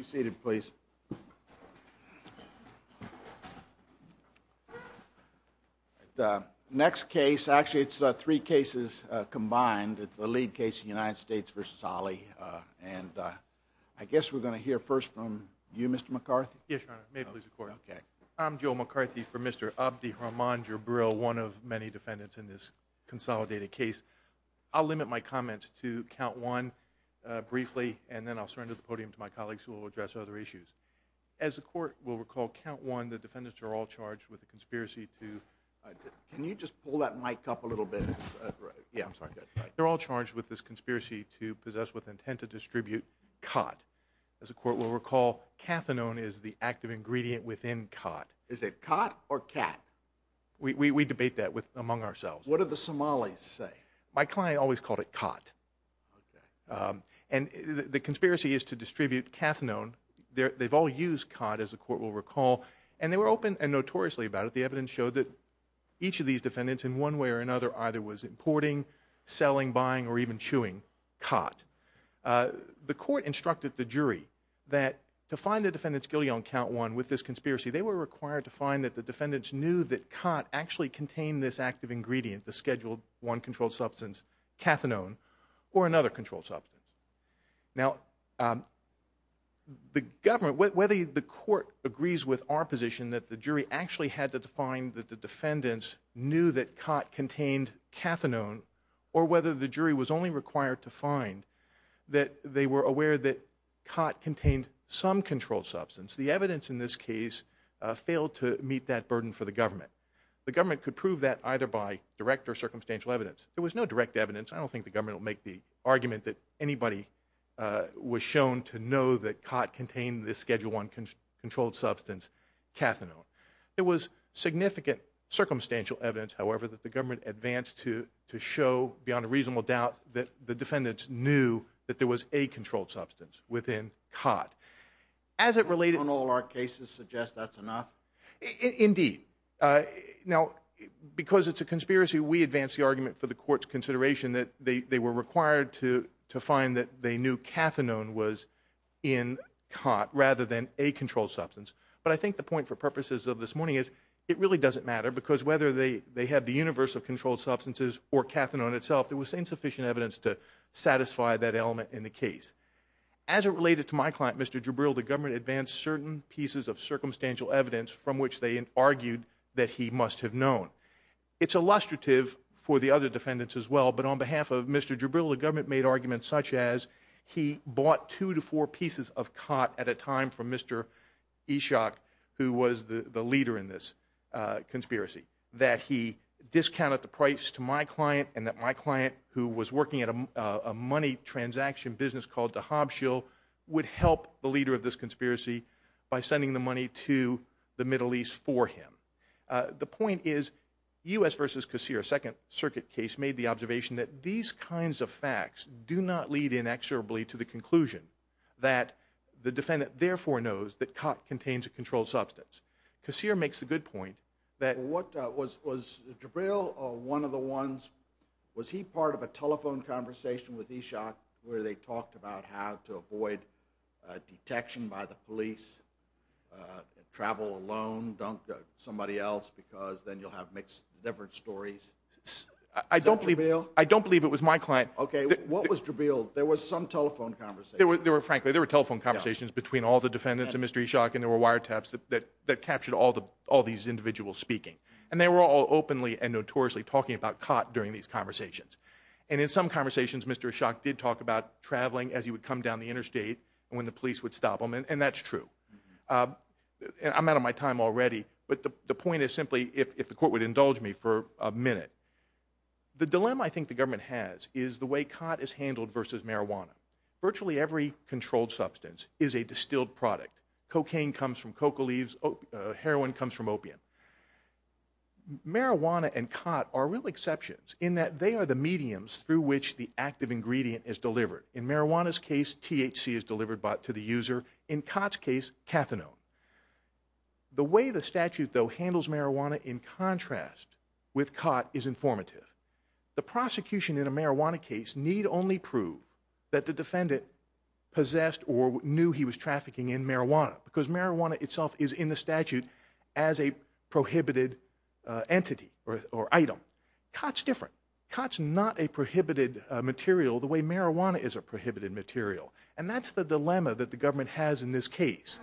seated please the next case actually it's three cases combined it's the lead case the United States versus Ali and I guess we're going to hear first from you mr. McCarthy yes I'm Joe McCarthy for mr. Abdi Rahman Jabril one of many defendants in this consolidated case I'll limit my comments to count one briefly and then I'll surrender the podium to my colleagues who will address other issues as the court will recall count one the defendants are all charged with a conspiracy to can you just pull that mic up a little bit yeah I'm sorry they're all charged with this conspiracy to possess with intent to distribute cot as a court will recall cathinone is the active ingredient within cot is it cot or cat we debate that with among ourselves what are the Somalis say my and the conspiracy is to distribute cathinone there they've all used cot as the court will recall and they were open and notoriously about it the evidence showed that each of these defendants in one way or another either was importing selling buying or even chewing cot the court instructed the jury that to find the defendants guilty on count one with this conspiracy they were required to find that the defendants knew that cot actually contained this active ingredient the scheduled one controlled substance cathinone or another control substance now the government whether the court agrees with our position that the jury actually had to define that the defendants knew that cot contained cathinone or whether the jury was only required to find that they were aware that cot contained some control substance the evidence in this case failed to meet that burden for the government the government could prove that either by direct or circumstantial evidence there was no direct evidence I anybody was shown to know that cot contained this schedule one can control substance cathinone it was significant circumstantial evidence however that the government advanced to to show beyond a reasonable doubt that the defendants knew that there was a controlled substance within cot as it related on all our cases suggest that's enough indeed now because it's a conspiracy we advance the argument for the court's consideration that they were required to find that they knew cathinone was in cot rather than a controlled substance but I think the point for purposes of this morning is it really doesn't matter because whether they they had the universe of controlled substances or cathinone itself there was insufficient evidence to satisfy that element in the case as it related to my client mr. Jabril the government advanced certain pieces of circumstantial evidence from which they argued that he must have known it's illustrative for the other defendants as well but on behalf of mr. Jabril the government made arguments such as he bought two to four pieces of cot at a time from mr. Ishak who was the the leader in this conspiracy that he discounted the price to my client and that my client who was working at a money transaction business called to Hobbs Hill would help the leader of this conspiracy by sending the money to the Middle East for him the point is u.s. versus Casio second circuit case made the observation that these kinds of facts do not lead inexorably to the conclusion that the defendant therefore knows that cot contains a controlled substance Casio makes a good point that what was was the drill or one of the ones was he part of a telephone conversation with Ishak where they talked about how to avoid detection by the police travel alone don't somebody else because then you'll have mixed different stories I don't believe I don't believe it was my client okay what was to build there was some telephone conversation there were frankly there were telephone conversations between all the defendants and mr. Ishak and there were wiretaps that that captured all the all these individuals speaking and they were all openly and notoriously talking about cot during these conversations and in some conversations mr. Ishak did talk about traveling as he would come down the interstate and when the police would stop him and that's true I'm out of my time already but the point is simply if the court would indulge me for a minute the dilemma I think the government has is the way cot is handled versus marijuana virtually every controlled substance is a distilled product cocaine comes from coca leaves heroin comes from opium marijuana and cot are real exceptions in that they are the mediums through which the active ingredient is delivered in marijuana's case THC is delivered but to the user in Cots case is cathinone the way the statute though handles marijuana in contrast with cot is informative the prosecution in a marijuana case need only prove that the defendant possessed or knew he was trafficking in marijuana because marijuana itself is in the statute as a prohibited entity or item Cots different Cots not a prohibited material the way marijuana is a prohibited material and that's the dilemma that the government has in this case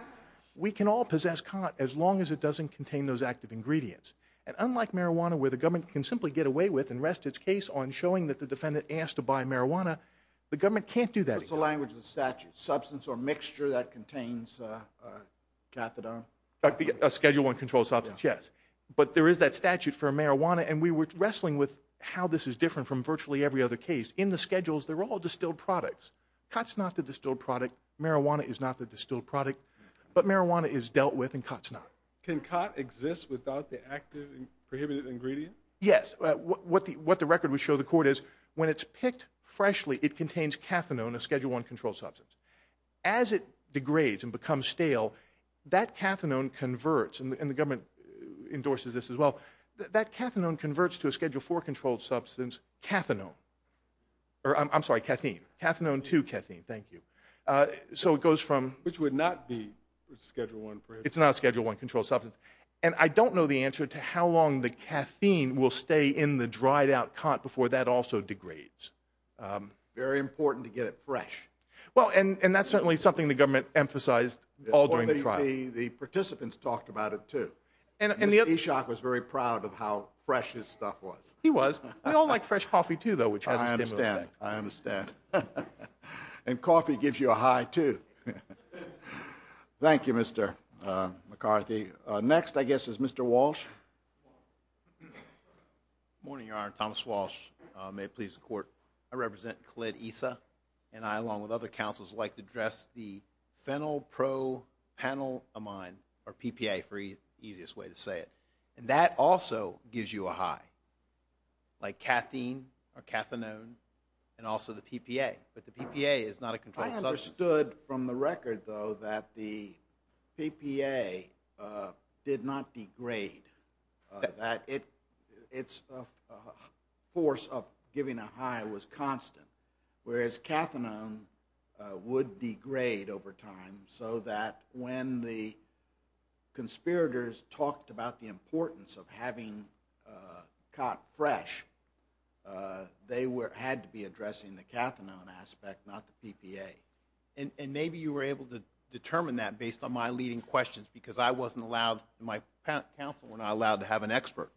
we can all possess cot as long as it doesn't contain those active ingredients and unlike marijuana where the government can simply get away with and rest its case on showing that the defendant asked to buy marijuana the government can't do that it's a language the statute substance or mixture that contains cathadone but the schedule one control substance yes but there is that statute for marijuana and we were wrestling with how this is different from virtually every other case in the product marijuana is not the distilled product but marijuana is dealt with in Cots not can cot exist without the active ingredient yes what the what the record we show the court is when it's picked freshly it contains cathadone a schedule one control substance as it degrades and becomes stale that cathadone converts and the government endorses this as well that cathadone converts to a schedule for controlled substance cathadone or I'm sorry caffeine cathadone to caffeine thank you so it goes from which would not be schedule one it's not schedule one control substance and I don't know the answer to how long the caffeine will stay in the dried-out cot before that also degrades very important to get it fresh well and and that's certainly something the government emphasized all during the trial the participants talked about it too and in the other shock was very proud of how fresh his stuff was he all like fresh coffee too though which I understand I understand and coffee gives you a high to thank you mr. McCarthy next I guess is mr. Walsh morning your honor Thomas Walsh may please the court I represent clade ESA and I along with other councils like to dress the fennel pro panel of mine or PPA free easiest way to say it and that also gives you a high like caffeine or cathinone and also the PPA but the PPA is not a control I understood from the record though that the PPA did not degrade that it it's a force of giving a high was constant whereas cathinone would degrade over time so that when the conspirators talked about the importance of having caught fresh they were had to be addressing the cathinone aspect not the PPA and and maybe you were able to determine that based on my leading questions because I wasn't allowed my counsel were not allowed to have an expert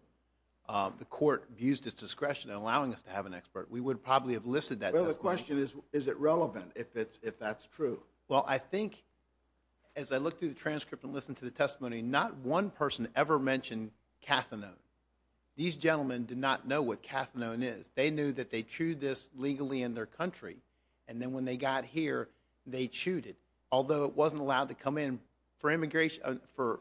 the court used its discretion in the question is is it relevant if it's if that's true well I think as I look through the transcript and listen to the testimony not one person ever mentioned cathinone these gentlemen did not know what cathinone is they knew that they chewed this legally in their country and then when they got here they chewed it although it wasn't allowed to come in for immigration for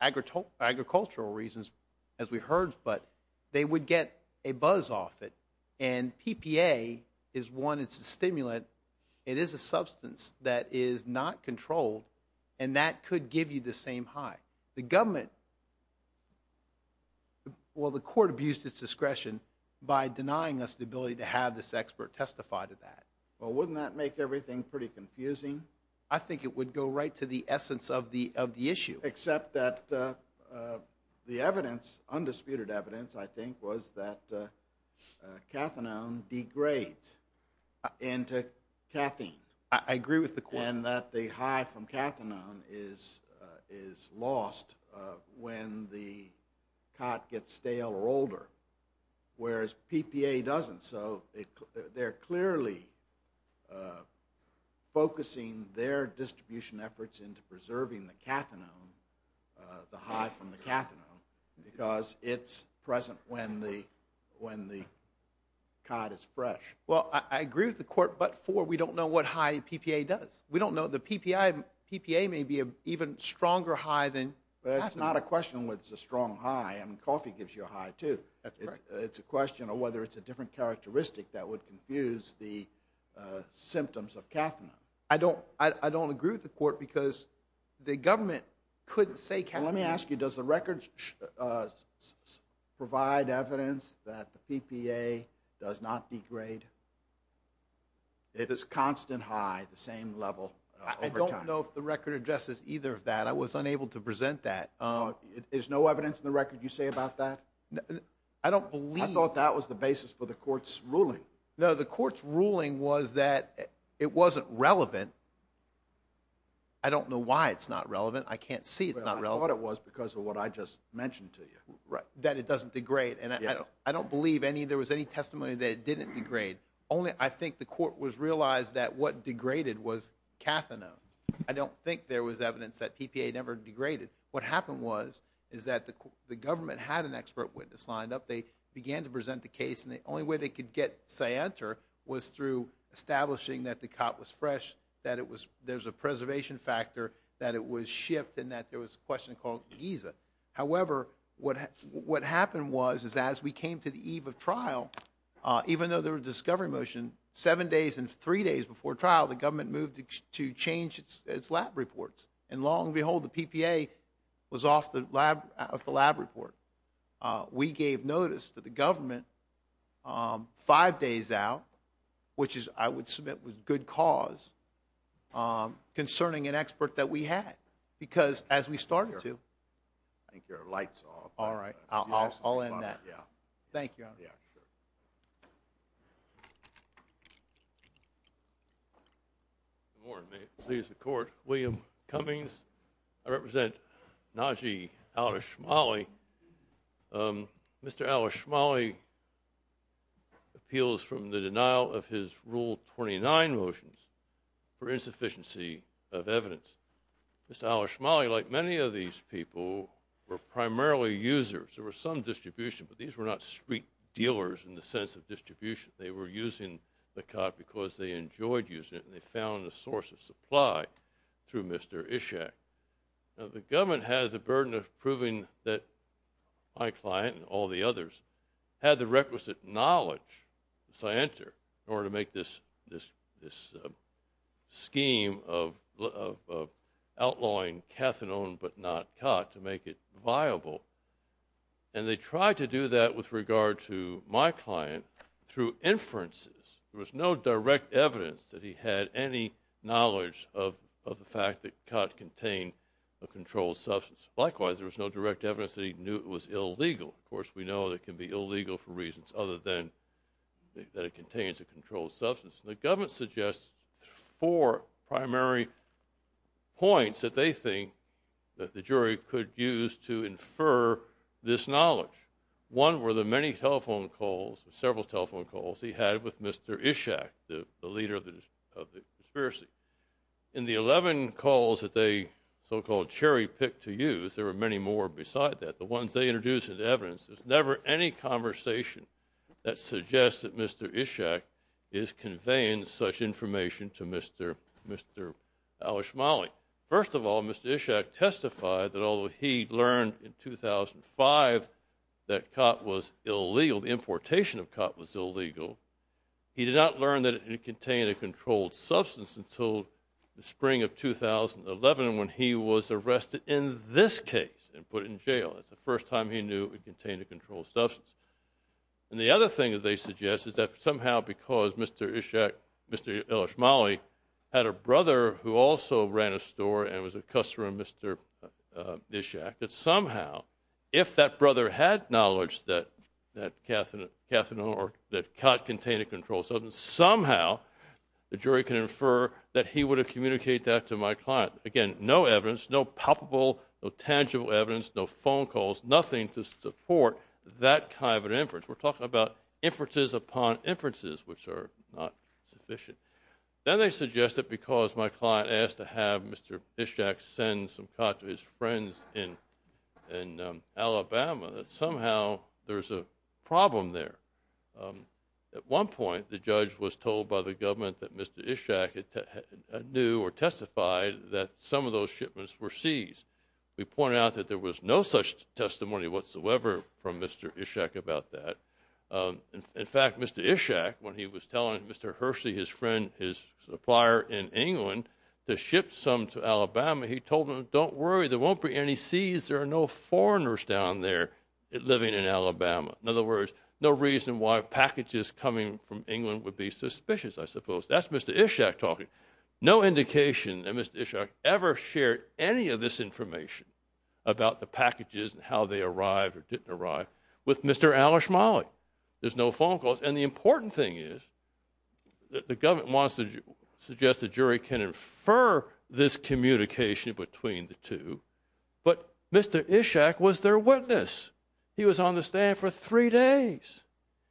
agricultural reasons as we heard but they would get a buzz off it and PPA is one it's a stimulant it is a substance that is not controlled and that could give you the same high the government well the court abused its discretion by denying us the ability to have this expert testify to that well wouldn't that make everything pretty confusing I think it would go right to the essence of the of the issue except that the evidence undisputed evidence I think was that cathinone degrade into caffeine I agree with the quinn that the high from cathinone is is lost when the cot gets stale or older whereas PPA doesn't so they're clearly focusing their distribution efforts into preserving the cathinone the high from the cathinone because it's present when the when the cot is fresh well I agree with the court but for we don't know what high PPA does we don't know the PPI PPA may be a even stronger high than it's not a question what's a strong high and coffee gives you a high too it's a question of whether it's a different characteristic that would confuse the symptoms of caffeine I don't I don't agree with the court because the government couldn't say can let me ask you does the records provide evidence that the PPA does not degrade it is constant high the same level I don't know if the record addresses either of that I was unable to present that there's no evidence in the record you say about that I don't believe I thought that was the basis for the court's ruling no the court's ruling was that it wasn't relevant I don't know why it's not relevant I can't see it's not what it was because of what I just mentioned to you right that it doesn't degrade and I don't believe any there was any testimony that it didn't degrade only I think the court was realized that what degraded was cathinone I don't think there was evidence that PPA never degraded what happened was is that the government had an expert witness lined up they began to present the case and the only way they could get say enter was through establishing that the cop was fresh that it was there's a preservation factor that it was shipped in that there was a question called Giza however what what happened was is as we came to the eve of trial even though there were discovery motion seven days and three days before trial the long behold the PPA was off the lab of the lab report we gave notice that the government five days out which is I would submit was good cause concerning an expert that we had because as we started to thank your lights all right I'll end that yeah thank you please the court William Cummings I represent Najee out of Shmuley mr. Alish Molly appeals from the denial of his rule 29 motions for insufficiency of evidence miss Alice Molly like many of these people were primarily users there were some distribution but these were not street dealers in the sense of distribution they were using the cop because they enjoyed using it and they found the source of supply through mr. Ishak the government has a burden of proving that my client and all the others had the requisite knowledge so I enter in order to make this this this scheme of outlawing cathedral but not it viable and they tried to do that with regard to my client through inferences there was no direct evidence that he had any knowledge of the fact that cut contain a controlled substance likewise there was no direct evidence that he knew it was illegal of course we know that can be illegal for reasons other than that it contains a controlled substance the government suggests four primary points that they think that the jury could use to infer this knowledge one were the many telephone calls several telephone calls he had with mr. Ishak the leader of the conspiracy in the 11 calls that they so-called cherry pick to use there are many more beside that the ones they introduced into evidence there's never any conversation that suggests that mr. Ishak is our smallie first of all mr. Ishak testified that although he learned in 2005 that cot was illegal the importation of cot was illegal he did not learn that it contained a controlled substance until the spring of 2011 when he was arrested in this case and put in jail that's the first time he knew it contained a controlled substance and the other thing that they suggest is that somehow because mr. Ishak mr. Ismaili had a brother who also ran a store and was a customer mr. Ishak that somehow if that brother had knowledge that that Catherine Catherine or that cot contain a controlled substance somehow the jury can infer that he would have communicate that to my client again no evidence no palpable no tangible evidence no phone calls nothing to support that kind of inferences which are not sufficient then they suggest that because my client asked to have mr. Ishak send some cot to his friends in Alabama that somehow there's a problem there at one point the judge was told by the government that mr. Ishak knew or testified that some of those shipments were seized we point out that there was no such testimony whatsoever from mr. Ishak about that in fact mr. Ishak when he was telling mr. Hersey his friend his supplier in England to ship some to Alabama he told him don't worry there won't be any sees there are no foreigners down there living in Alabama in other words no reason why packages coming from England would be suspicious I suppose that's mr. Ishak talking no indication that mr. Ishak ever shared any of this information about the packages and how they arrived or didn't arrive with mr. Alish Molly there's no phone calls and the important thing is that the government wants to suggest the jury can infer this communication between the two but mr. Ishak was their witness he was on the stand for three days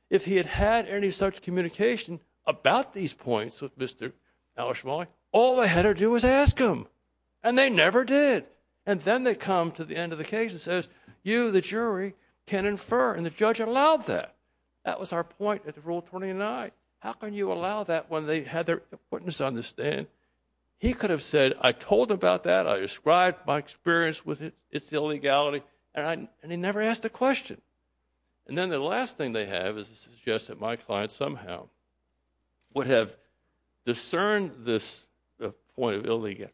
if he had had any such communication about these points with mr. Alish Molly all I had to do was ask him and they never did and then they come to the end of the case and says you the jury can infer and the judge allowed that that was our point at the rule 29 how can you allow that when they had their witness understand he could have said I told about that I described my experience with it it's the illegality and I and he never asked a question and then the last thing they have is to suggest that my client somehow would have discerned this point of illegal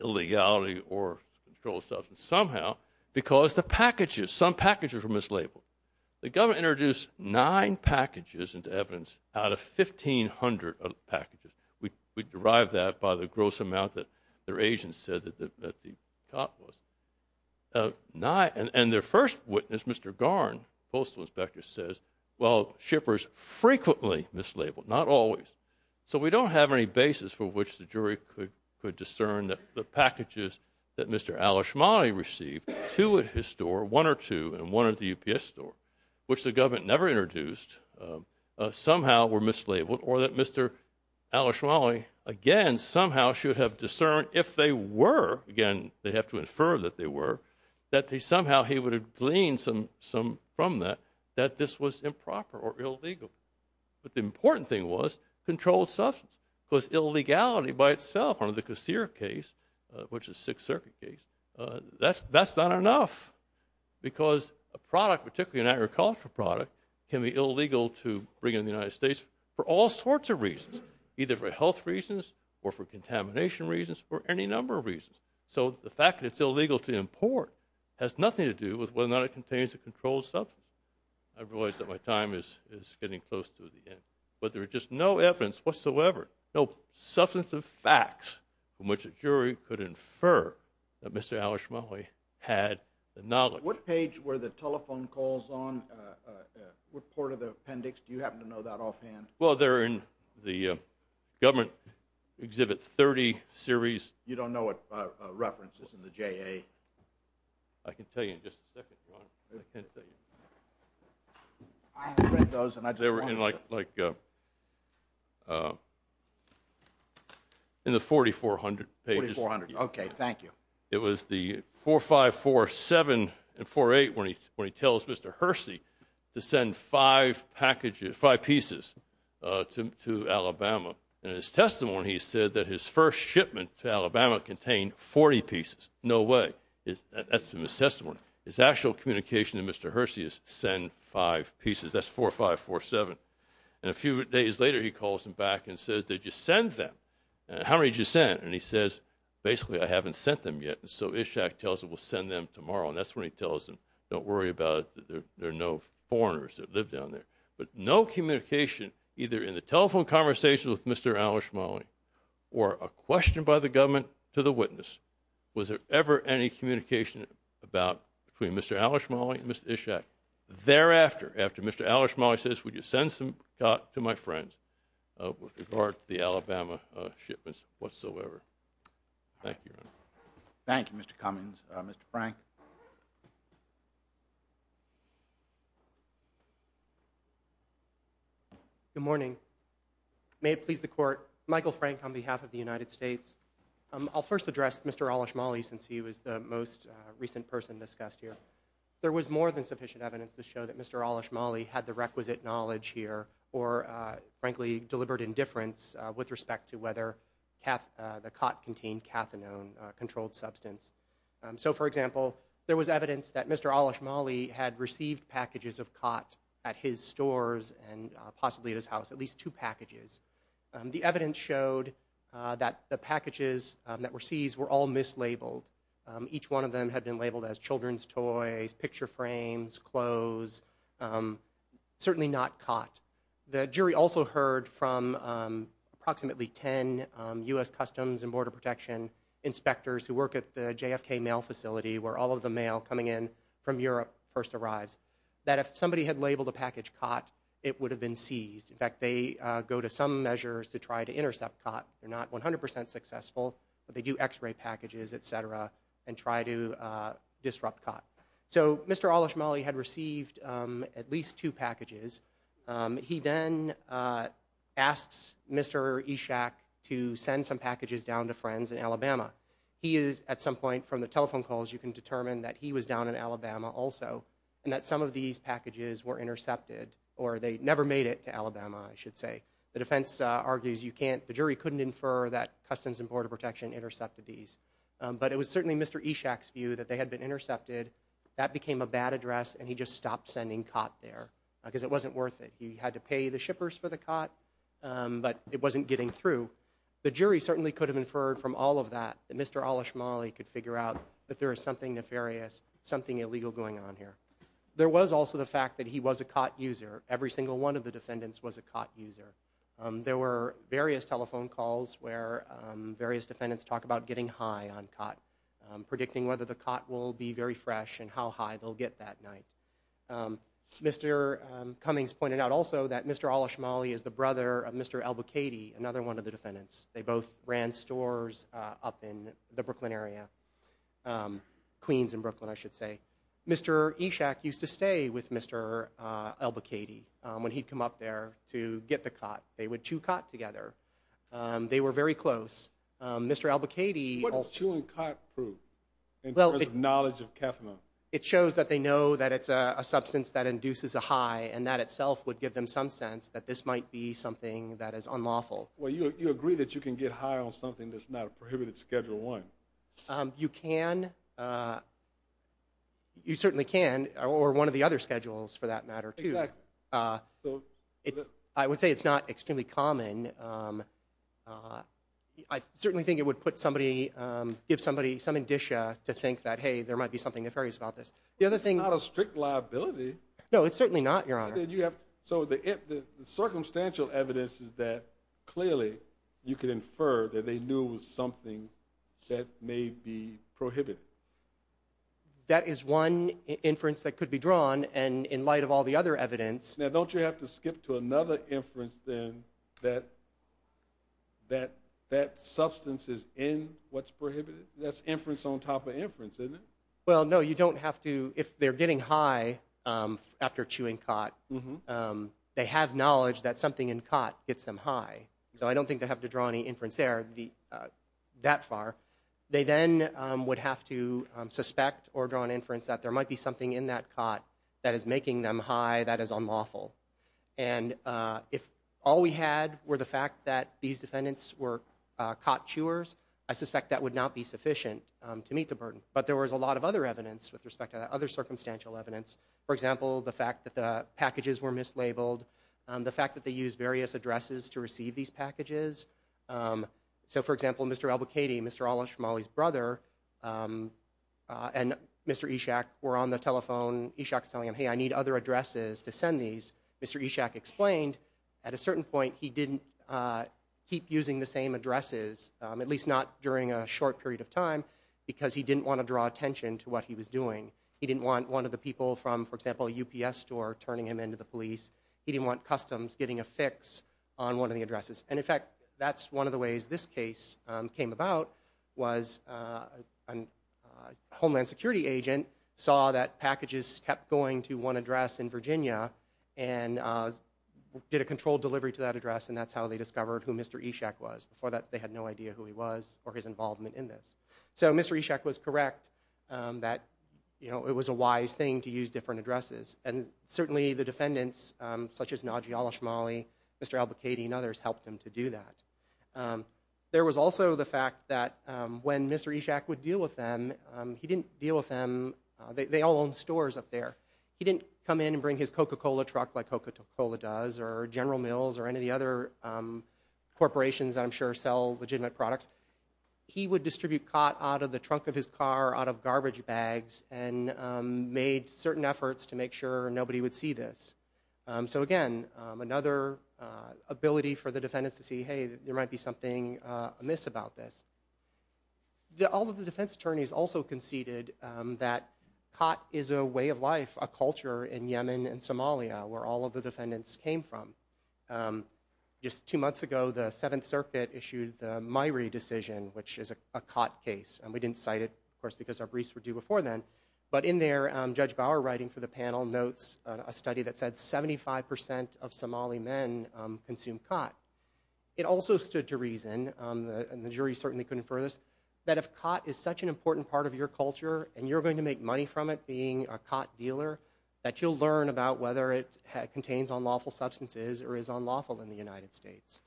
illegality or control substance somehow because the packages some packages were mislabeled the government introduced nine packages into evidence out of 1,500 of packages we derived that by the gross amount that their agent said that the top was nine and and their first witness mr. Garn postal inspector says well shippers frequently mislabeled not always so we don't have any basis for which the jury could could discern that the packages that mr. Alish Molly received to at his store one or two and one of the UPS store which the government never introduced somehow were mislabeled or that mr. Alish Molly again somehow should have discerned if they were again they have to infer that they were that they somehow he would have gleaned some some from that that this was improper or illegal but the important thing was controlled substance was illegality by itself under the case here case which is Sixth Circuit case that's that's not enough because a product particularly an agricultural product can be illegal to bring in the United States for all sorts of reasons either for health reasons or for contamination reasons or any number of reasons so the fact that it's illegal to import has nothing to do with whether or not it contains a controlled substance I've realized that my time is is getting close to the end but there are just no evidence whatsoever no substance of facts from which a jury could infer that mr. Alish Molly had the knowledge what page were the telephone calls on what part of the appendix do you happen to know that offhand well they're in the government exhibit 30 series you don't know what references in I can tell you like in the 4400 pages 400 okay thank you it was the four five four seven and four eight when he when he tells mr. Hersey to send five packages five pieces to Alabama and his testimony he said that his first shipment to no way is that's an assessment his actual communication to mr. Hersey is send five pieces that's four five four seven and a few days later he calls him back and says did you send them how many just sent and he says basically I haven't sent them yet and so Ishaq tells it will send them tomorrow and that's what he tells them don't worry about there there are no foreigners that live down there but no communication either in the telephone conversation with mr. Alish Molly or a question by the government to the witness was there ever any communication about between mr. Alish Molly and mr. Ishaq thereafter after mr. Alish Molly says would you send some got to my friends with regard to the Alabama shipments whatsoever thank you thank you mr. Cummings mr. good morning may it please the court Michael Frank on behalf of the United States I'll first address mr. Alish Molly since he was the most recent person discussed here there was more than sufficient evidence to show that mr. Alish Molly had the requisite knowledge here or frankly deliberate indifference with respect to whether the cot contained cathinone controlled substance so for example there was evidence that mr. Alish Molly had his stores and possibly his house at least two packages the evidence showed that the packages that were seized were all mislabeled each one of them had been labeled as children's toys picture frames clothes certainly not caught the jury also heard from approximately 10 US Customs and Border Protection inspectors who work at the JFK mail facility where all of the mail coming in from Europe first arrives that if somebody had labeled a package caught it would have been seized in fact they go to some measures to try to intercept caught they're not 100% successful but they do x-ray packages etc and try to disrupt caught so mr. Alish Molly had received at least two packages he then asks mr. Ishaq to send some packages down to friends in Alabama he is at some point from the telephone calls you can determine that he was down in Alabama also and that some of these packages were intercepted or they never made it to Alabama I should say the defense argues you can't the jury couldn't infer that Customs and Border Protection intercepted these but it was certainly mr. Ishaq's view that they had been intercepted that became a bad address and he just stopped sending caught there because it wasn't worth it he had to pay the shippers for the cot but it wasn't getting through the jury certainly could have inferred from all of that that mr. Alish Molly could figure out that there is something nefarious something illegal going on here there was also the fact that he was a caught user every single one of the defendants was a caught user there were various telephone calls where various defendants talk about getting high on caught predicting whether the cot will be very fresh and how high they'll get that night mr. Cummings pointed out also that mr. Alish Molly is the brother of mr. Albuquerque another one of the area Queens in Brooklyn I should say mr. Ishaq used to stay with mr. Albuquerque when he'd come up there to get the cot they would chew cot together they were very close mr. Albuquerque well the knowledge of kethamine it shows that they know that it's a substance that induces a high and that itself would give them some sense that this might be something that is unlawful well you agree that you can get high on something that's not a you can you certainly can or one of the other schedules for that matter to it I would say it's not extremely common I certainly think it would put somebody give somebody some indicia to think that hey there might be something if areas about this the other thing not a strict liability no it's certainly not your honor did you have so the circumstantial evidence is that clearly you can infer that they knew was something that may be prohibited that is one inference that could be drawn and in light of all the other evidence now don't you have to skip to another inference then that that that substance is in what's prohibited that's inference on top of inference isn't it well no you don't have to if they're getting high after chewing cot mm-hmm they have knowledge that something in cot gets them high so I don't think they have to draw any inference there the that far they then would have to suspect or draw an inference that there might be something in that cot that is making them high that is unlawful and if all we had were the fact that these defendants were cot chewers I suspect that would not be sufficient to meet the burden but there was a lot of other evidence with respect to other circumstantial evidence for example the fact that the packages were mislabeled the fact that they use various addresses to receive these packages so for example mr. Albuquerque mr. Alish from Molly's brother and mr. Ishak were on the telephone Ishak's telling him hey I need other addresses to send these mr. Ishak explained at a certain point he didn't keep using the same addresses at least not during a short period of time because he didn't want to draw attention to what he was doing he didn't want one of the people from for example a UPS store turning him into the police he didn't want customs getting a fix on one of the addresses and in fact that's one of the ways this case came about was a Homeland Security agent saw that packages kept going to one address in Virginia and did a controlled delivery to that address and that's how they discovered who mr. Ishak was before that they had no idea who he was or his involvement in this so mr. Ishak was correct that you know it was a wise thing to use different addresses and certainly the defendants such as Naji Alish Molly mr. Albuquerque and others helped him to do that there was also the fact that when mr. Ishak would deal with them he didn't deal with them they all own stores up there he didn't come in and bring his coca-cola truck like coca-cola does or General Mills or any of the other corporations I'm sure sell legitimate products he would distribute caught out of the trunk of his car out of garbage bags and made certain efforts to make sure nobody would see this so again another ability for the defendants to see hey there might be something amiss about this the all of the defense attorneys also conceded that cot is a way of life a culture in Yemen and Somalia where all of the defendants came from just two months ago the Seventh Circuit issued my re decision which is a cot case and we didn't cite it of course because our briefs were due before then but in there judge Bauer writing for the panel notes a study that said 75% of Somali men consume cot it also stood to reason and the jury certainly couldn't furthest that if cot is such an important part of your culture and you're going to make money from it being a cot dealer that you'll learn about whether it contains unlawful substances or is unlawful in the United States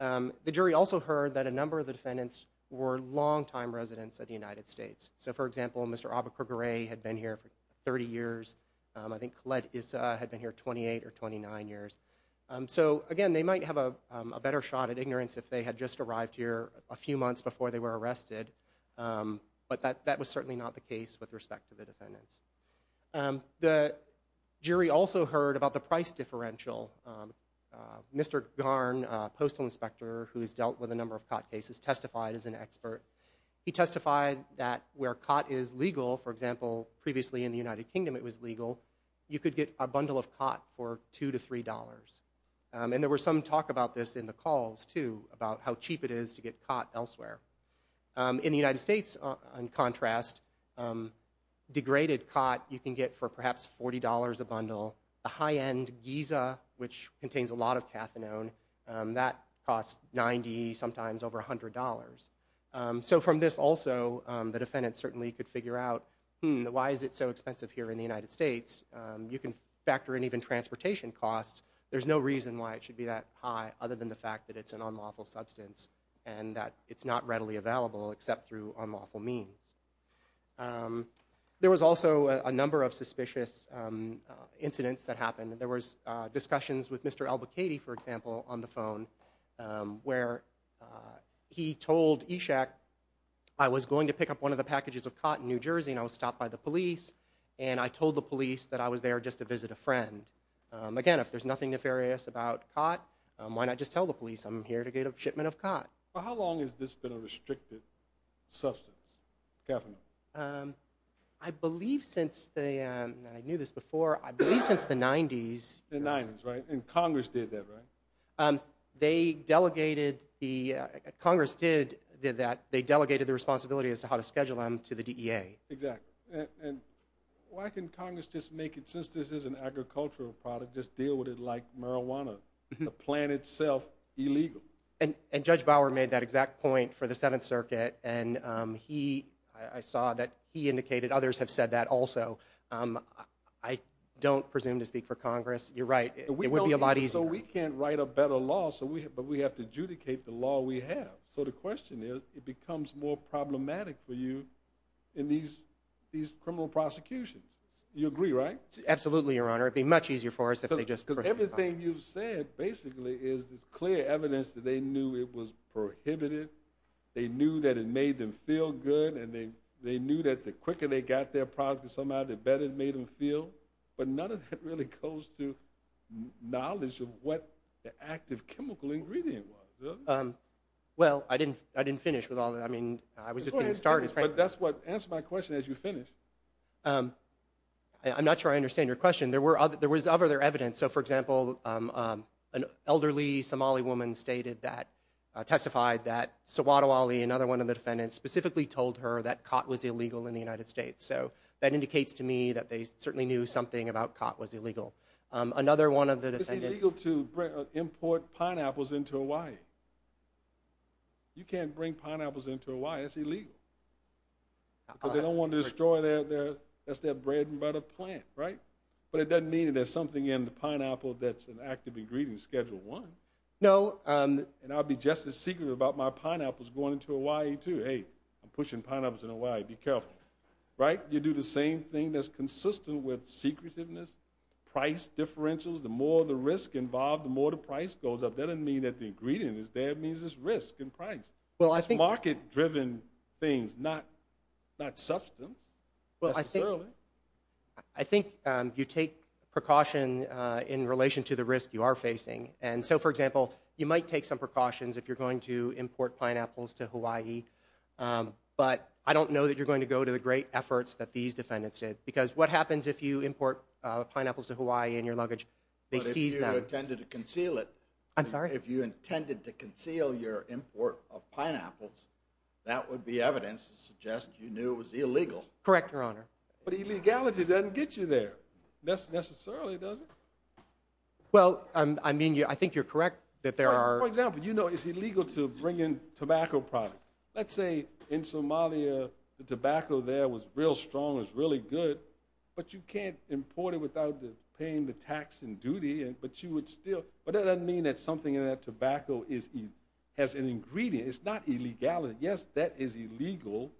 the jury also heard that a number of the defendants were longtime residents of the United States so for example mr. Aba Correa had been here for 30 years I think Collette is had been here 28 or 29 years so again they might have a better shot at ignorance if they had just arrived here a few months before they were arrested but that that was certainly not the case with respect to the defendants the jury also heard about the price differential mr. Garn postal inspector who has dealt with a number of cot cases testified as an expert he testified that where cot is legal for example previously in the United Kingdom it was legal you could get a bundle of cot for two to three dollars and there were some talk about this in the calls to about how cheap it is to get caught elsewhere in the United States on contrast degraded cot you can get for perhaps $40 a bundle a high-end Giza which contains a lot of that cost 90 sometimes over $100 so from this also the defendant certainly could figure out hmm why is it so expensive here in the United States you can factor in even transportation costs there's no reason why it should be that high other than the fact that it's an unlawful substance and that it's not readily available except through unlawful means there was also a number of suspicious incidents that happened there was discussions with mr. Albuquerque for example on the phone where he told Ishak I was going to pick up one of the packages of cotton New Jersey and I was stopped by the police and I told the police that I was there just to visit a friend again if there's nothing nefarious about cot why not just tell the police I'm here to get a shipment of cot how long has this been a restricted substance I believe since the I knew they delegated the Congress did did that they delegated the responsibility as to how to schedule them to the DEA exactly and why can Congress just make it since this is an agricultural product just deal with it like marijuana the plant itself illegal and and judge Bauer made that exact point for the Seventh Circuit and he I saw that he indicated others have said that also I don't presume to we can't write a better law so we have but we have to adjudicate the law we have so the question is it becomes more problematic for you in these these criminal prosecutions you agree right absolutely your honor it'd be much easier for us if they just because everything you've said basically is this clear evidence that they knew it was prohibited they knew that it made them feel good and they they knew that the quicker they got their product and somehow the better it made them feel but none of that really goes to knowledge of what the active chemical ingredient was well I didn't I didn't finish with all that I mean I was just going to start it's right that's what answer my question as you finish I'm not sure I understand your question there were other there was other their evidence so for example an elderly Somali woman stated that testified that so water Wally another one of the defendants specifically told her that cot was illegal in the United States so that indicates to me that they certainly knew something about cot was illegal another one of the defendants to import pineapples into Hawaii you can't bring pineapples into Hawaii it's illegal but they don't want to destroy their there that's their bread and butter plant right but it doesn't mean there's something in the pineapple that's an active ingredient schedule one no and I'll be just as secret about my pineapples going into Hawaii to a I'm pushing pineapples in Hawaii be careful right you do the same thing that's secretiveness price differentials the more the risk involved the more the price goes up that doesn't mean that the ingredient is there means this risk and price well I think market driven things not not substance well I think I think you take precaution in relation to the risk you are facing and so for example you might take some precautions if you're going to import pineapples to Hawaii but I don't know that you're going to go to the great efforts that these defendants did because what happens if you import pineapples to Hawaii in your luggage they seize them tended to conceal it I'm sorry if you intended to conceal your import of pineapples that would be evidence to suggest you knew it was illegal correct your honor but he legality doesn't get you there that's necessarily does it well I mean you I think you're correct that there are example you know is illegal to bring in tobacco product let's say in Somalia the tobacco there was real strong is really good but you can't import it without the paying the tax and duty and but you would still but that doesn't mean that something in that tobacco is he has an ingredient it's not illegality yes that is illegal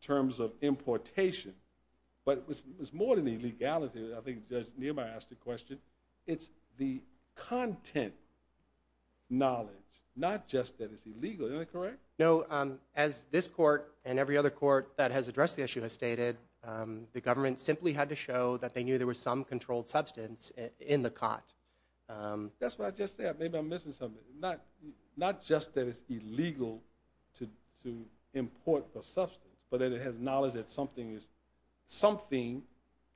terms of importation but it was more than illegality I think just nearby asked a question it's the content knowledge not correct no as this court and every other court that has addressed the issue has stated the government simply had to show that they knew there was some controlled substance in the cot that's what I just said maybe I'm missing something not not just that it's illegal to import the substance but that it has knowledge that something is something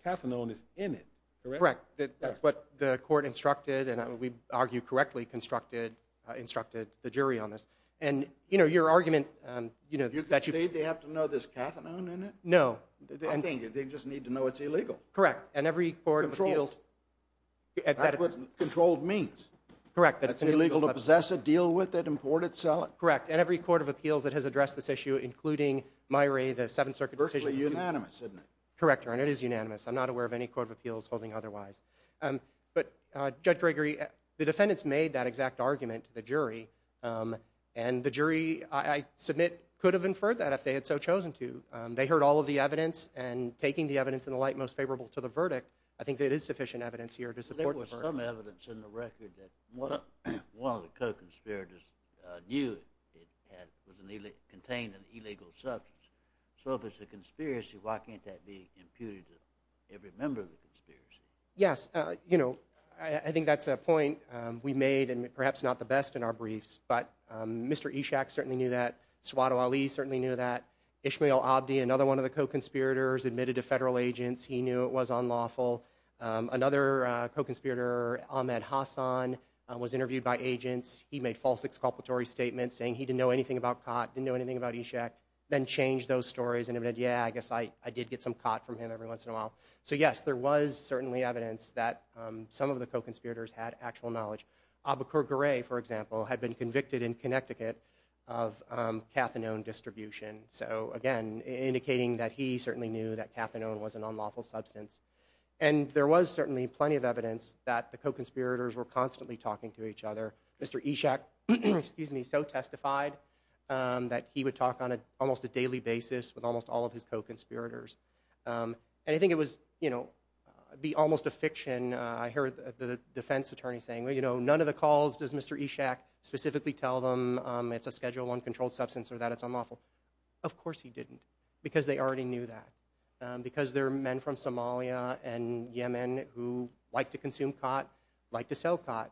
caffeine is in it correct that that's what the court instructed and we argue correctly constructed instructed the jury on this and you know your argument you know that you have to know this no I think they just need to know it's illegal correct and every board controls at that isn't controlled means correct that it's illegal to possess a deal with it imported so correct and every Court of Appeals that has addressed this issue including my ray the Seventh Circuit personally unanimous correct your honor it is unanimous I'm not aware of any Court of Appeals holding otherwise but Judge Gregory the defendants made that exact argument to the jury and the jury I submit could have inferred that if they had so chosen to they heard all of the evidence and taking the evidence in the light most favorable to the verdict I think that is sufficient evidence here to support some evidence in the record that one of the conspirators knew it contained an illegal substance so if it's a conspiracy why can't that be imputed to every member of the I think that's a point we made and perhaps not the best in our briefs but mr. Ishak certainly knew that swado Ali certainly knew that Ishmael Abdi another one of the co-conspirators admitted to federal agents he knew it was unlawful another co-conspirator Ahmed Hassan was interviewed by agents he made false exculpatory statements saying he didn't know anything about caught didn't know anything about Ishaq then changed those stories and admitted yeah I guess I I did get some caught from him every once in a while so yes there was certainly evidence that some of the co-conspirators had actual knowledge abakur gray for example had been convicted in Connecticut of cathinone distribution so again indicating that he certainly knew that cathinone was an unlawful substance and there was certainly plenty of evidence that the co-conspirators were constantly talking to each other mr. Ishaq excuse me so testified that he would talk on a almost a daily basis with be almost a fiction I heard the defense attorney saying well you know none of the calls does mr. Ishaq specifically tell them it's a schedule one controlled substance or that it's unlawful of course he didn't because they already knew that because there are men from Somalia and Yemen who like to consume caught like to sell caught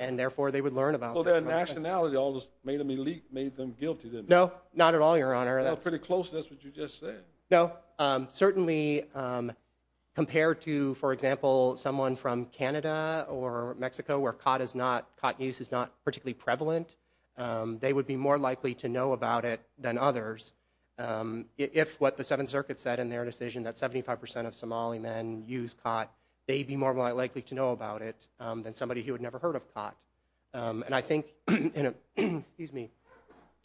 and therefore they would learn about their nationality almost made them elite made them guilty didn't know not at all your no certainly compared to for example someone from Canada or Mexico where cot is not cot use is not particularly prevalent they would be more likely to know about it than others if what the Seventh Circuit said in their decision that 75% of Somali men use cot they'd be more likely to know about it than somebody who had never heard of cot and I think you know excuse me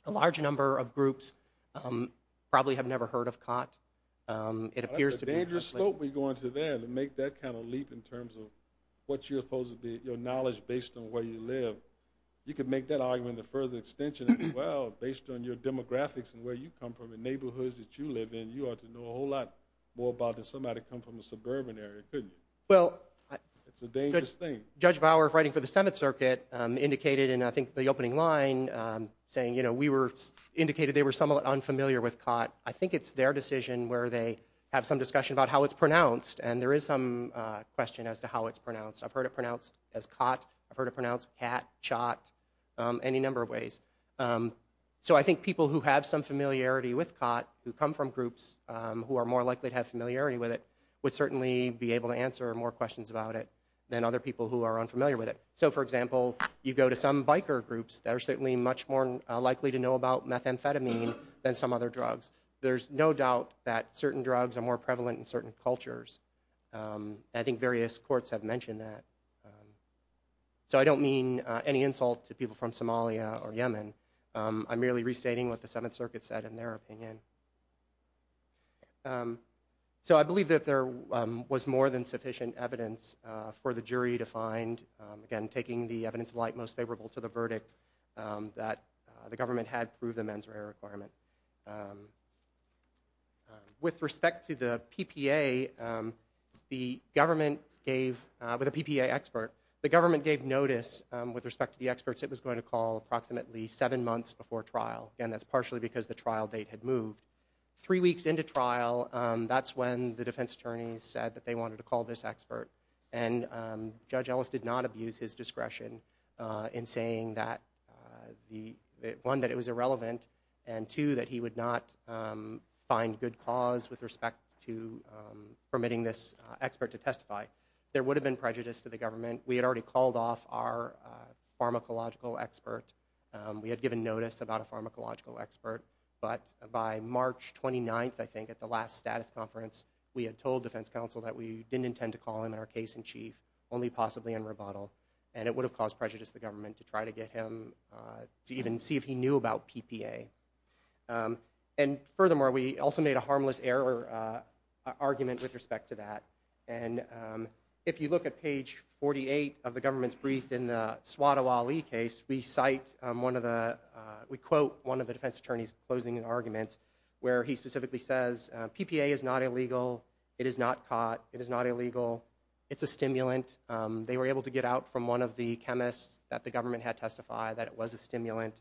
a large number of groups probably have never heard of cot it appears to be a dangerous slope we go into there to make that kind of leap in terms of what you're supposed to be your knowledge based on where you live you could make that argument the further extension well based on your demographics and where you come from in neighborhoods that you live in you ought to know a whole lot more about that somebody come from the suburban area good well it's a dangerous thing judge Bauer writing for the Seventh Circuit indicated and I think the opening line saying you know we were indicated they were somewhat unfamiliar with cot I think it's their decision where they have some discussion about how it's pronounced and there is some question as to how it's pronounced I've heard it pronounced as cot I've heard it pronounced cat shot any number of ways so I think people who have some familiarity with cot who come from groups who are more likely to have familiarity with it would certainly be able to answer more questions about it than other people who are unfamiliar with it so for example you go to some biker groups that are certainly much more likely to know about methamphetamine than some other drugs there's no doubt that certain drugs are more prevalent in certain cultures I think various courts have mentioned that so I don't mean any insult to people from Somalia or Yemen I'm merely restating what the Seventh Circuit said in their opinion so I believe that there was more than again taking the evidence of light most favorable to the verdict that the government had through the mens rea requirement with respect to the PPA the government gave with a PPA expert the government gave notice with respect to the experts it was going to call approximately seven months before trial and that's partially because the trial date had moved three weeks into trial that's when the defense attorneys said that they wanted to call this expert and Judge Ellis did not abuse his discretion in saying that the one that it was irrelevant and two that he would not find good cause with respect to permitting this expert to testify there would have been prejudice to the government we had already called off our pharmacological expert we had given notice about a pharmacological expert but by March 29th I think at the last status conference we had told defense counsel that we didn't intend to call him in our case-in-chief only possibly in rebuttal and it would have caused prejudice the government to try to get him to even see if he knew about PPA and furthermore we also made a harmless error argument with respect to that and if you look at page 48 of the government's brief in the swat awali case we cite one of the we quote one of the defense attorneys closing an argument where he specifically says PPA is not illegal it is not caught it is not illegal it's a stimulant they were able to get out from one of the chemists that the government had testified that it was a stimulant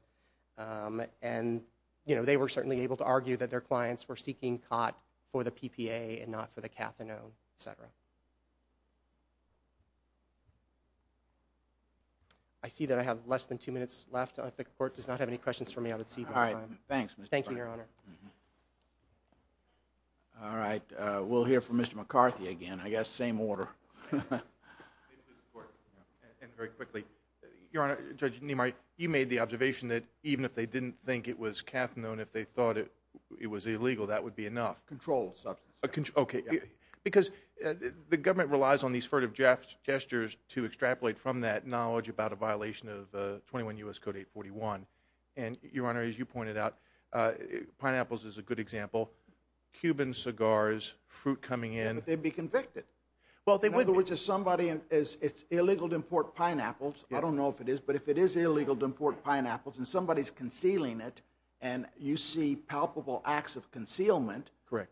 and you know they were certainly able to argue that their clients were seeking caught for the PPA and not for the cathinone etc I see that I have less than two minutes left if the court does not have any questions for me I would see all right thanks thank you all right we'll hear from mr. McCarthy again I guess same order you made the observation that even if they didn't think it was cathinone if they thought it it was illegal that would be enough controlled substance okay because the government relies on these furtive Jeff's gestures to extrapolate from that knowledge about a violation of 21 us code 841 and your honor as you pointed out pineapples is a good example Cuban cigars fruit coming in they'd be convicted well they would which is somebody and it's illegal to import pineapples I don't know if it is but if it is illegal to import pineapples and somebody's concealing it and you see palpable acts of concealment correct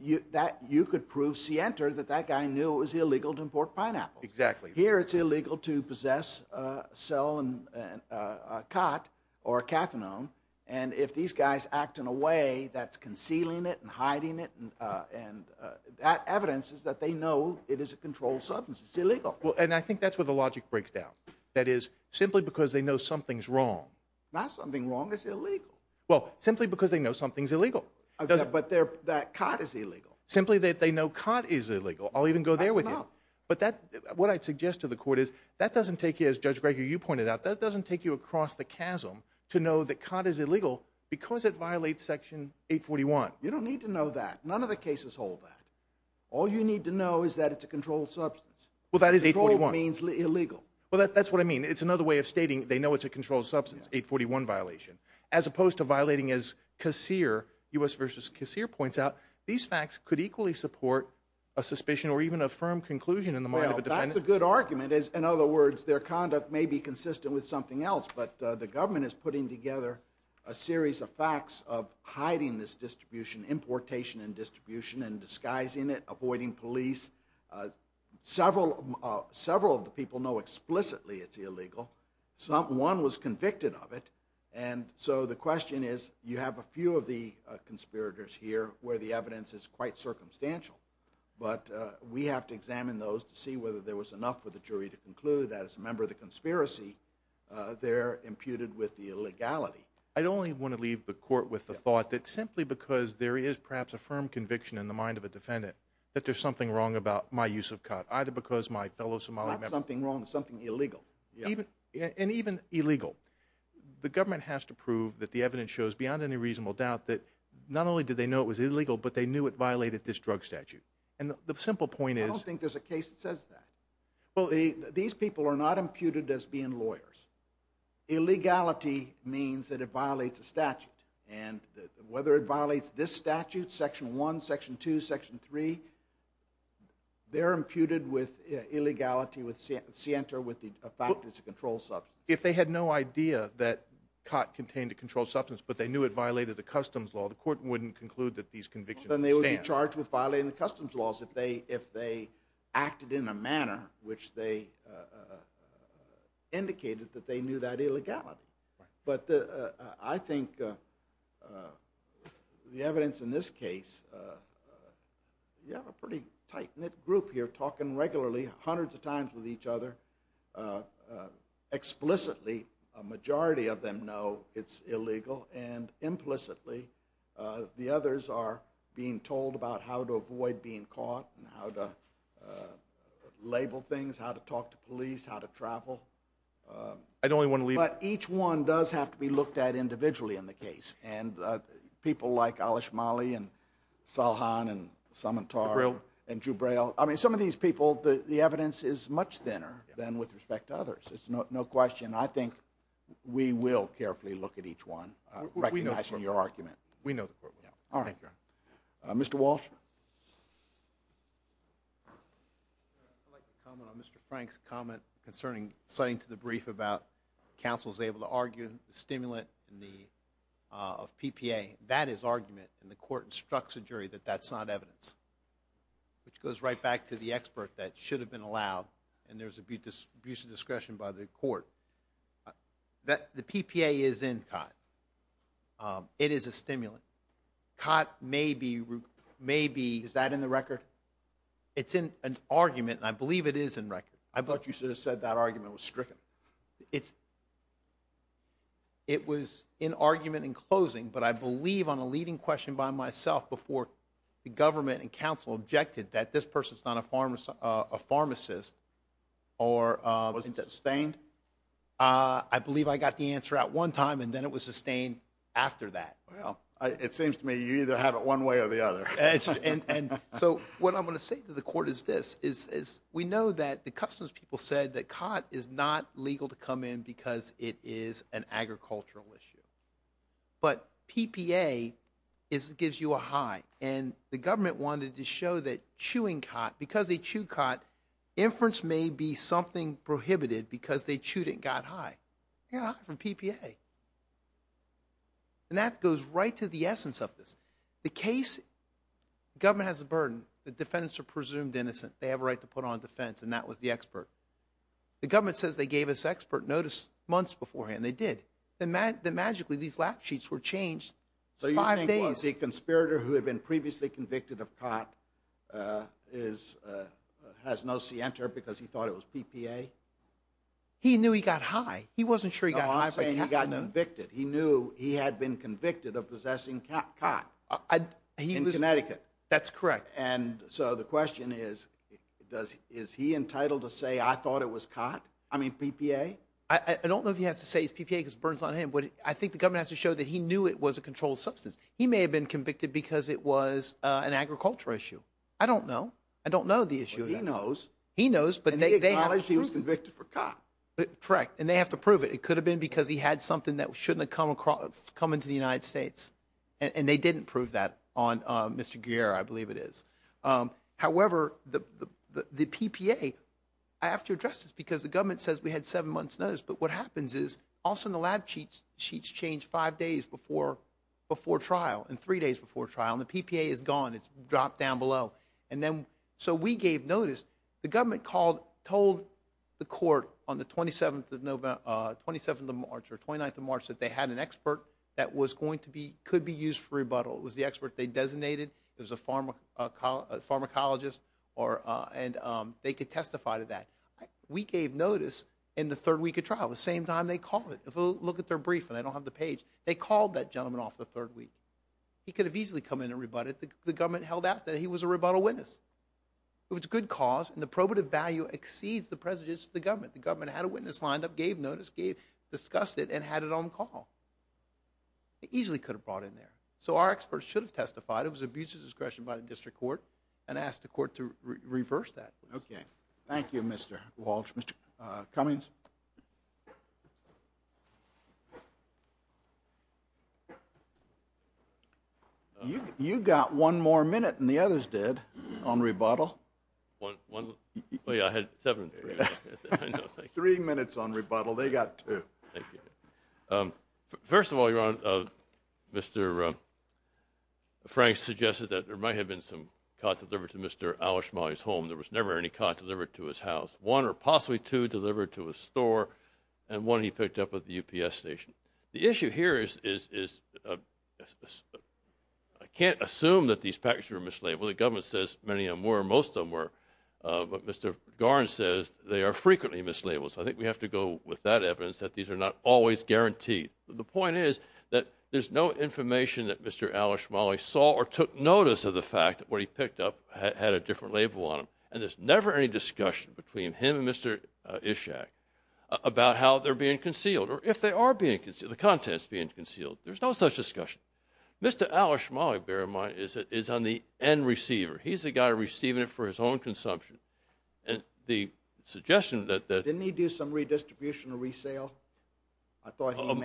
you that you could prove scienter that that guy knew it was illegal to import pineapple exactly here it's illegal to possess a cell and a cot or a cathinone and if these guys act in a way that's concealing it and hiding it and and that evidence is that they know it is a controlled substance it's illegal well and I think that's what the logic breaks down that is simply because they know something's wrong not something wrong is illegal well simply because they know something's illegal but there that cot is illegal simply that they know cot is what I'd suggest to the court is that doesn't take you as judge Gregory you pointed out that doesn't take you across the chasm to know that cot is illegal because it violates section 841 you don't need to know that none of the cases hold that all you need to know is that it's a controlled substance well that is a one means legal well that's what I mean it's another way of stating they know it's a controlled substance 841 violation as opposed to violating as casseur us versus casseur points out these facts could equally support a good argument is in other words their conduct may be consistent with something else but the government is putting together a series of facts of hiding this distribution importation and distribution and disguising it avoiding police several several of the people know explicitly it's illegal someone was convicted of it and so the question is you have a few of the conspirators here where the evidence is quite circumstantial but we have to examine those to see whether there was enough for the jury to conclude that as a member of the conspiracy they're imputed with the illegality I'd only want to leave the court with the thought that simply because there is perhaps a firm conviction in the mind of a defendant that there's something wrong about my use of cut either because my fellow Somali something wrong something illegal even and even illegal the government has to prove that the evidence shows beyond any reasonable doubt that not only did they know it was illegal but they knew it violated this drug statute and the simple point is I guess it says that well these people are not imputed as being lawyers illegality means that it violates a statute and whether it violates this statute section 1 section 2 section 3 they're imputed with illegality with center with the factors to control sub if they had no idea that cot contained to control substance but they knew it violated the customs law the court wouldn't conclude that these convictions and they were charged with violating the act it in a manner which they indicated that they knew that illegality but I think the evidence in this case you have a pretty tight-knit group here talking regularly hundreds of times with each other explicitly a majority of them know it's illegal and implicitly the others are being told about how to avoid being caught how to label things how to talk to police how to travel I don't want to leave each one does have to be looked at individually in the case and people like Alish Mali and Salhan and Sumitra real and you Braille I mean some of these people the evidence is much thinner than with respect to others it's not no question I think we will carefully look at each one we know your argument we Mr. Frank's comment concerning citing to the brief about counsel is able to argue the stimulant in the of PPA that is argument and the court instructs a jury that that's not evidence which goes right back to the expert that should have been allowed and there's a beauteous abuse of discretion by the court that the PPA is in cot it is a stimulant cot maybe maybe is that in the record it's in an argument I believe it is in record I thought you should have said that argument was stricken it's it was in argument in closing but I believe on a leading question by myself before the government and counsel objected that this person's not a farmer's a pharmacist or sustained I believe I got the answer at one time and then it was sustained after that well it seems to me either have it one way or the other and so what I'm going to say to the court is this is we know that the customs people said that cot is not legal to come in because it is an agricultural issue but PPA is gives you a high and the government wanted to show that chewing cot because they chew cot inference may be something prohibited because they chewed it got high yeah from PPA and that goes right to the essence of this the case government has a burden the defendants are presumed innocent they have a right to put on defense and that was the expert the government says they gave us expert notice months beforehand they did the mat the magically these lap sheets were changed so you're buying days a conspirator who had been previously convicted of cot is has no see enter because he thought it was PPA he knew he got high he wasn't sure you got convicted he knew he had been convicted of possessing cat I'd he was in Connecticut that's correct and so the question is does is he entitled to say I thought it was caught I mean PPA I don't know if he has to say it's PPA because burns on him but I think the government has to show that he knew it was a controlled substance he may have been convicted because it was an agricultural issue I don't know I don't know the issue he knows he knows but they acknowledge he was convicted for cop but correct and they have to prove it could have been because he had something that shouldn't have come across coming to the United States and they didn't prove that on mr. gear I believe it is however the the PPA I have to address this because the government says we had seven months notice but what happens is also in the lab cheats sheets change five days before before trial and three days before trial and the PPA is gone it's dropped down below and then so we gave notice the government called told the court on the 27th of November 27th of March or 29th of March that they had an expert that was going to be could be used for rebuttal it was the expert they designated there's a pharmacologist or and they could testify to that we gave notice in the third week of trial the same time they call it look at their brief and I don't have the page they called that gentleman off the third week he could have easily come in and rebutted the government held out that he was a rebuttal witness it was a good cause and the probative value exceeds the president's the government the government had a witness lined up gave notice gave discussed it and had it on call easily could have brought in there so our experts should have testified it was abused his discretion by the district court and asked the court to reverse that okay thank you mr. Walsh mr. Cummings you got one more minute and the others did on rebuttal three minutes on rebuttal they got two first of all your honor mr. Frank suggested that there might have been some cot delivered to mr. Alish my home there was never any cot delivered to his house one or possibly to deliver to a store and one he picked up with the UPS station the issue here is is I can't assume that these packages were mislabeled the government says many of more most of them were but mr. Garne says they are frequently mislabeled so I think we have to go with that evidence that these are not always guaranteed the point is that there's no information that mr. Alish Molly saw or took notice of the fact that what he picked up had a different label on him and there's never any discussion between him and mr. Ishak about how they're being concealed or if they are being considered the contents being concealed there's no such discussion mr. Alish Molly bear in mind is it is on the end receiver he's a guy receiving it for his own consumption and the suggestion that that didn't he do some redistribution or resale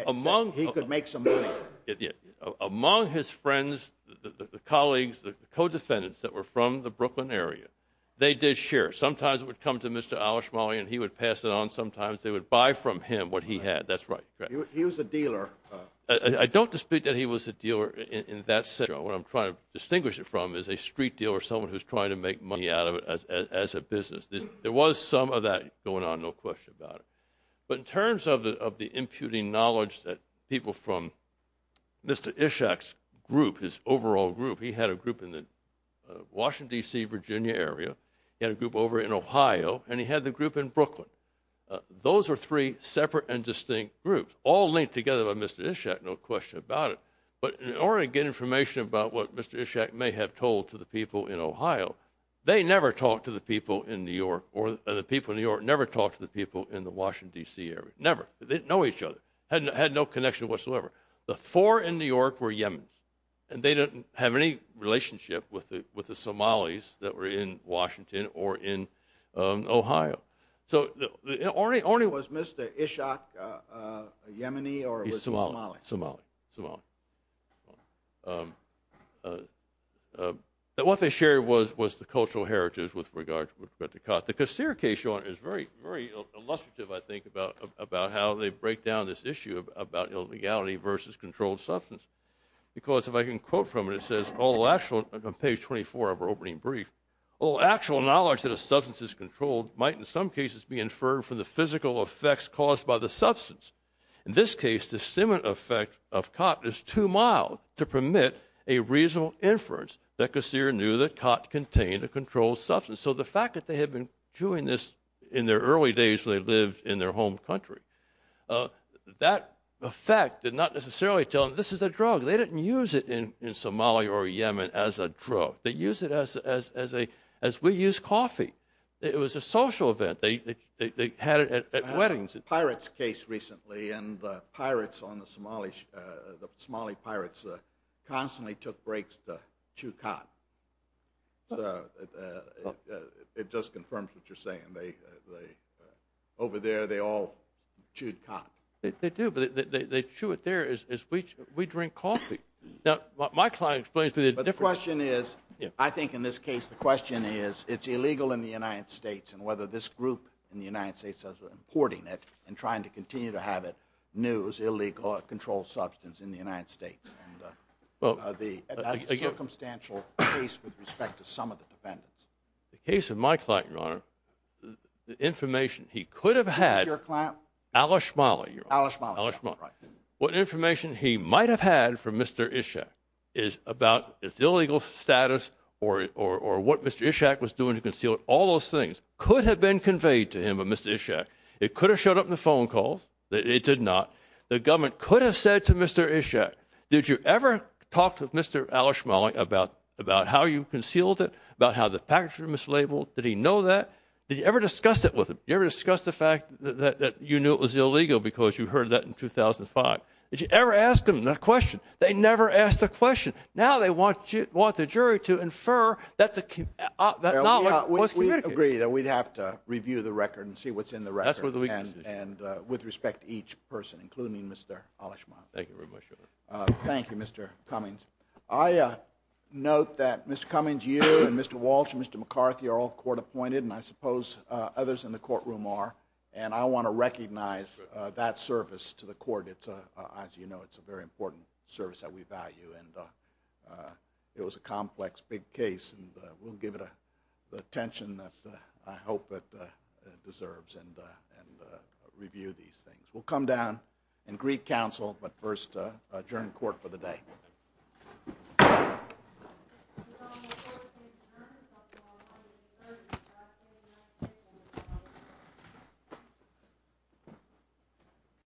among he could make some money yet among his friends the colleagues the co-defendants that were from the Brooklyn area they did share sometimes it would come to mr. Alish Molly and he would pass it on sometimes they would buy from him what he had that's right he was a dealer I don't dispute that he was a dealer in that scenario what I'm trying to distinguish it from is a street deal or someone who's trying to make money out of it as a business this there was some of that going on no question about it but in terms of the of the imputing knowledge that people from mr. Ishak's group his overall group he had a group in the Washington DC Virginia area in a group over in Ohio and he had the group in Brooklyn those are three separate and distinct groups all linked together by mr. Ishak no question about it but in order to get information about what mr. Ishak may have told to the people in Ohio they never talked to the people in New York or the people in New York never talked to the people in the Washington DC area never they didn't know each other hadn't had no connection whatsoever the four in New York were Yemen's and they didn't have any relationship with it with the Somalis that were in Washington or in Ohio so the only only was mr. Ishak Yemeni or Somali Somali Somali what they shared was was the cultural heritage with regard to cut the how they break down this issue of about illegality versus controlled substance because if I can quote from it it says all actual page 24 of our opening brief all actual knowledge that a substance is controlled might in some cases be inferred from the physical effects caused by the substance in this case the cement effect of cotton is too mild to permit a reasonable inference that kasir knew that cot contained a controlled substance so the fact that they had been doing this in their early days when they lived in their home country that effect did not necessarily tell him this is a drug they didn't use it in in Somalia or Yemen as a drug they use it as as a as we use coffee it was a social event they they had it at weddings a pirate's case recently and pirates on the Somali the Somali pirates constantly took breaks to chew cot it just confirms what you're saying they over there they all chewed cot they do but they chew it there as we drink coffee now my client explains to the different question is yeah I think in this case the question is it's illegal in the United States and whether this group in the United States as we're importing it and trying to continue to have it news illegal controlled substance in the United States well the circumstantial case with respect to some of the defendants the case of my client your honor the information he could have had your client alish molly your alish molly what information he might have had for mr. Ishaq is about its illegal status or or what mr. Ishaq was doing to conceal all those things could have been conveyed to him a mr. Ishaq it could have showed up in the phone calls that it did not the government could have said to mr. Ishaq did you ever talk to mr. alish molly about about how you concealed it about how the package were mislabeled did he know that did you ever discuss it with him you ever discussed the fact that you knew it was illegal because you heard that in 2005 did you ever ask them that question they never asked the question now they want you want the jury to infer that the key agree that we'd have to review the record and see what's in the rest of the week and with respect each person including mr. polish my thank you very much thank you mr. Cummings I note that mr. Cummings you and mr. Walsh mr. McCarthy are all court appointed and I suppose others in the courtroom are and I want to recognize that service to the court it's a as you know it's a very important service that we value and it was a complex big case and we'll give it a tension that I hope that deserves and and review these things we'll come down and Greek but first adjourn court for the day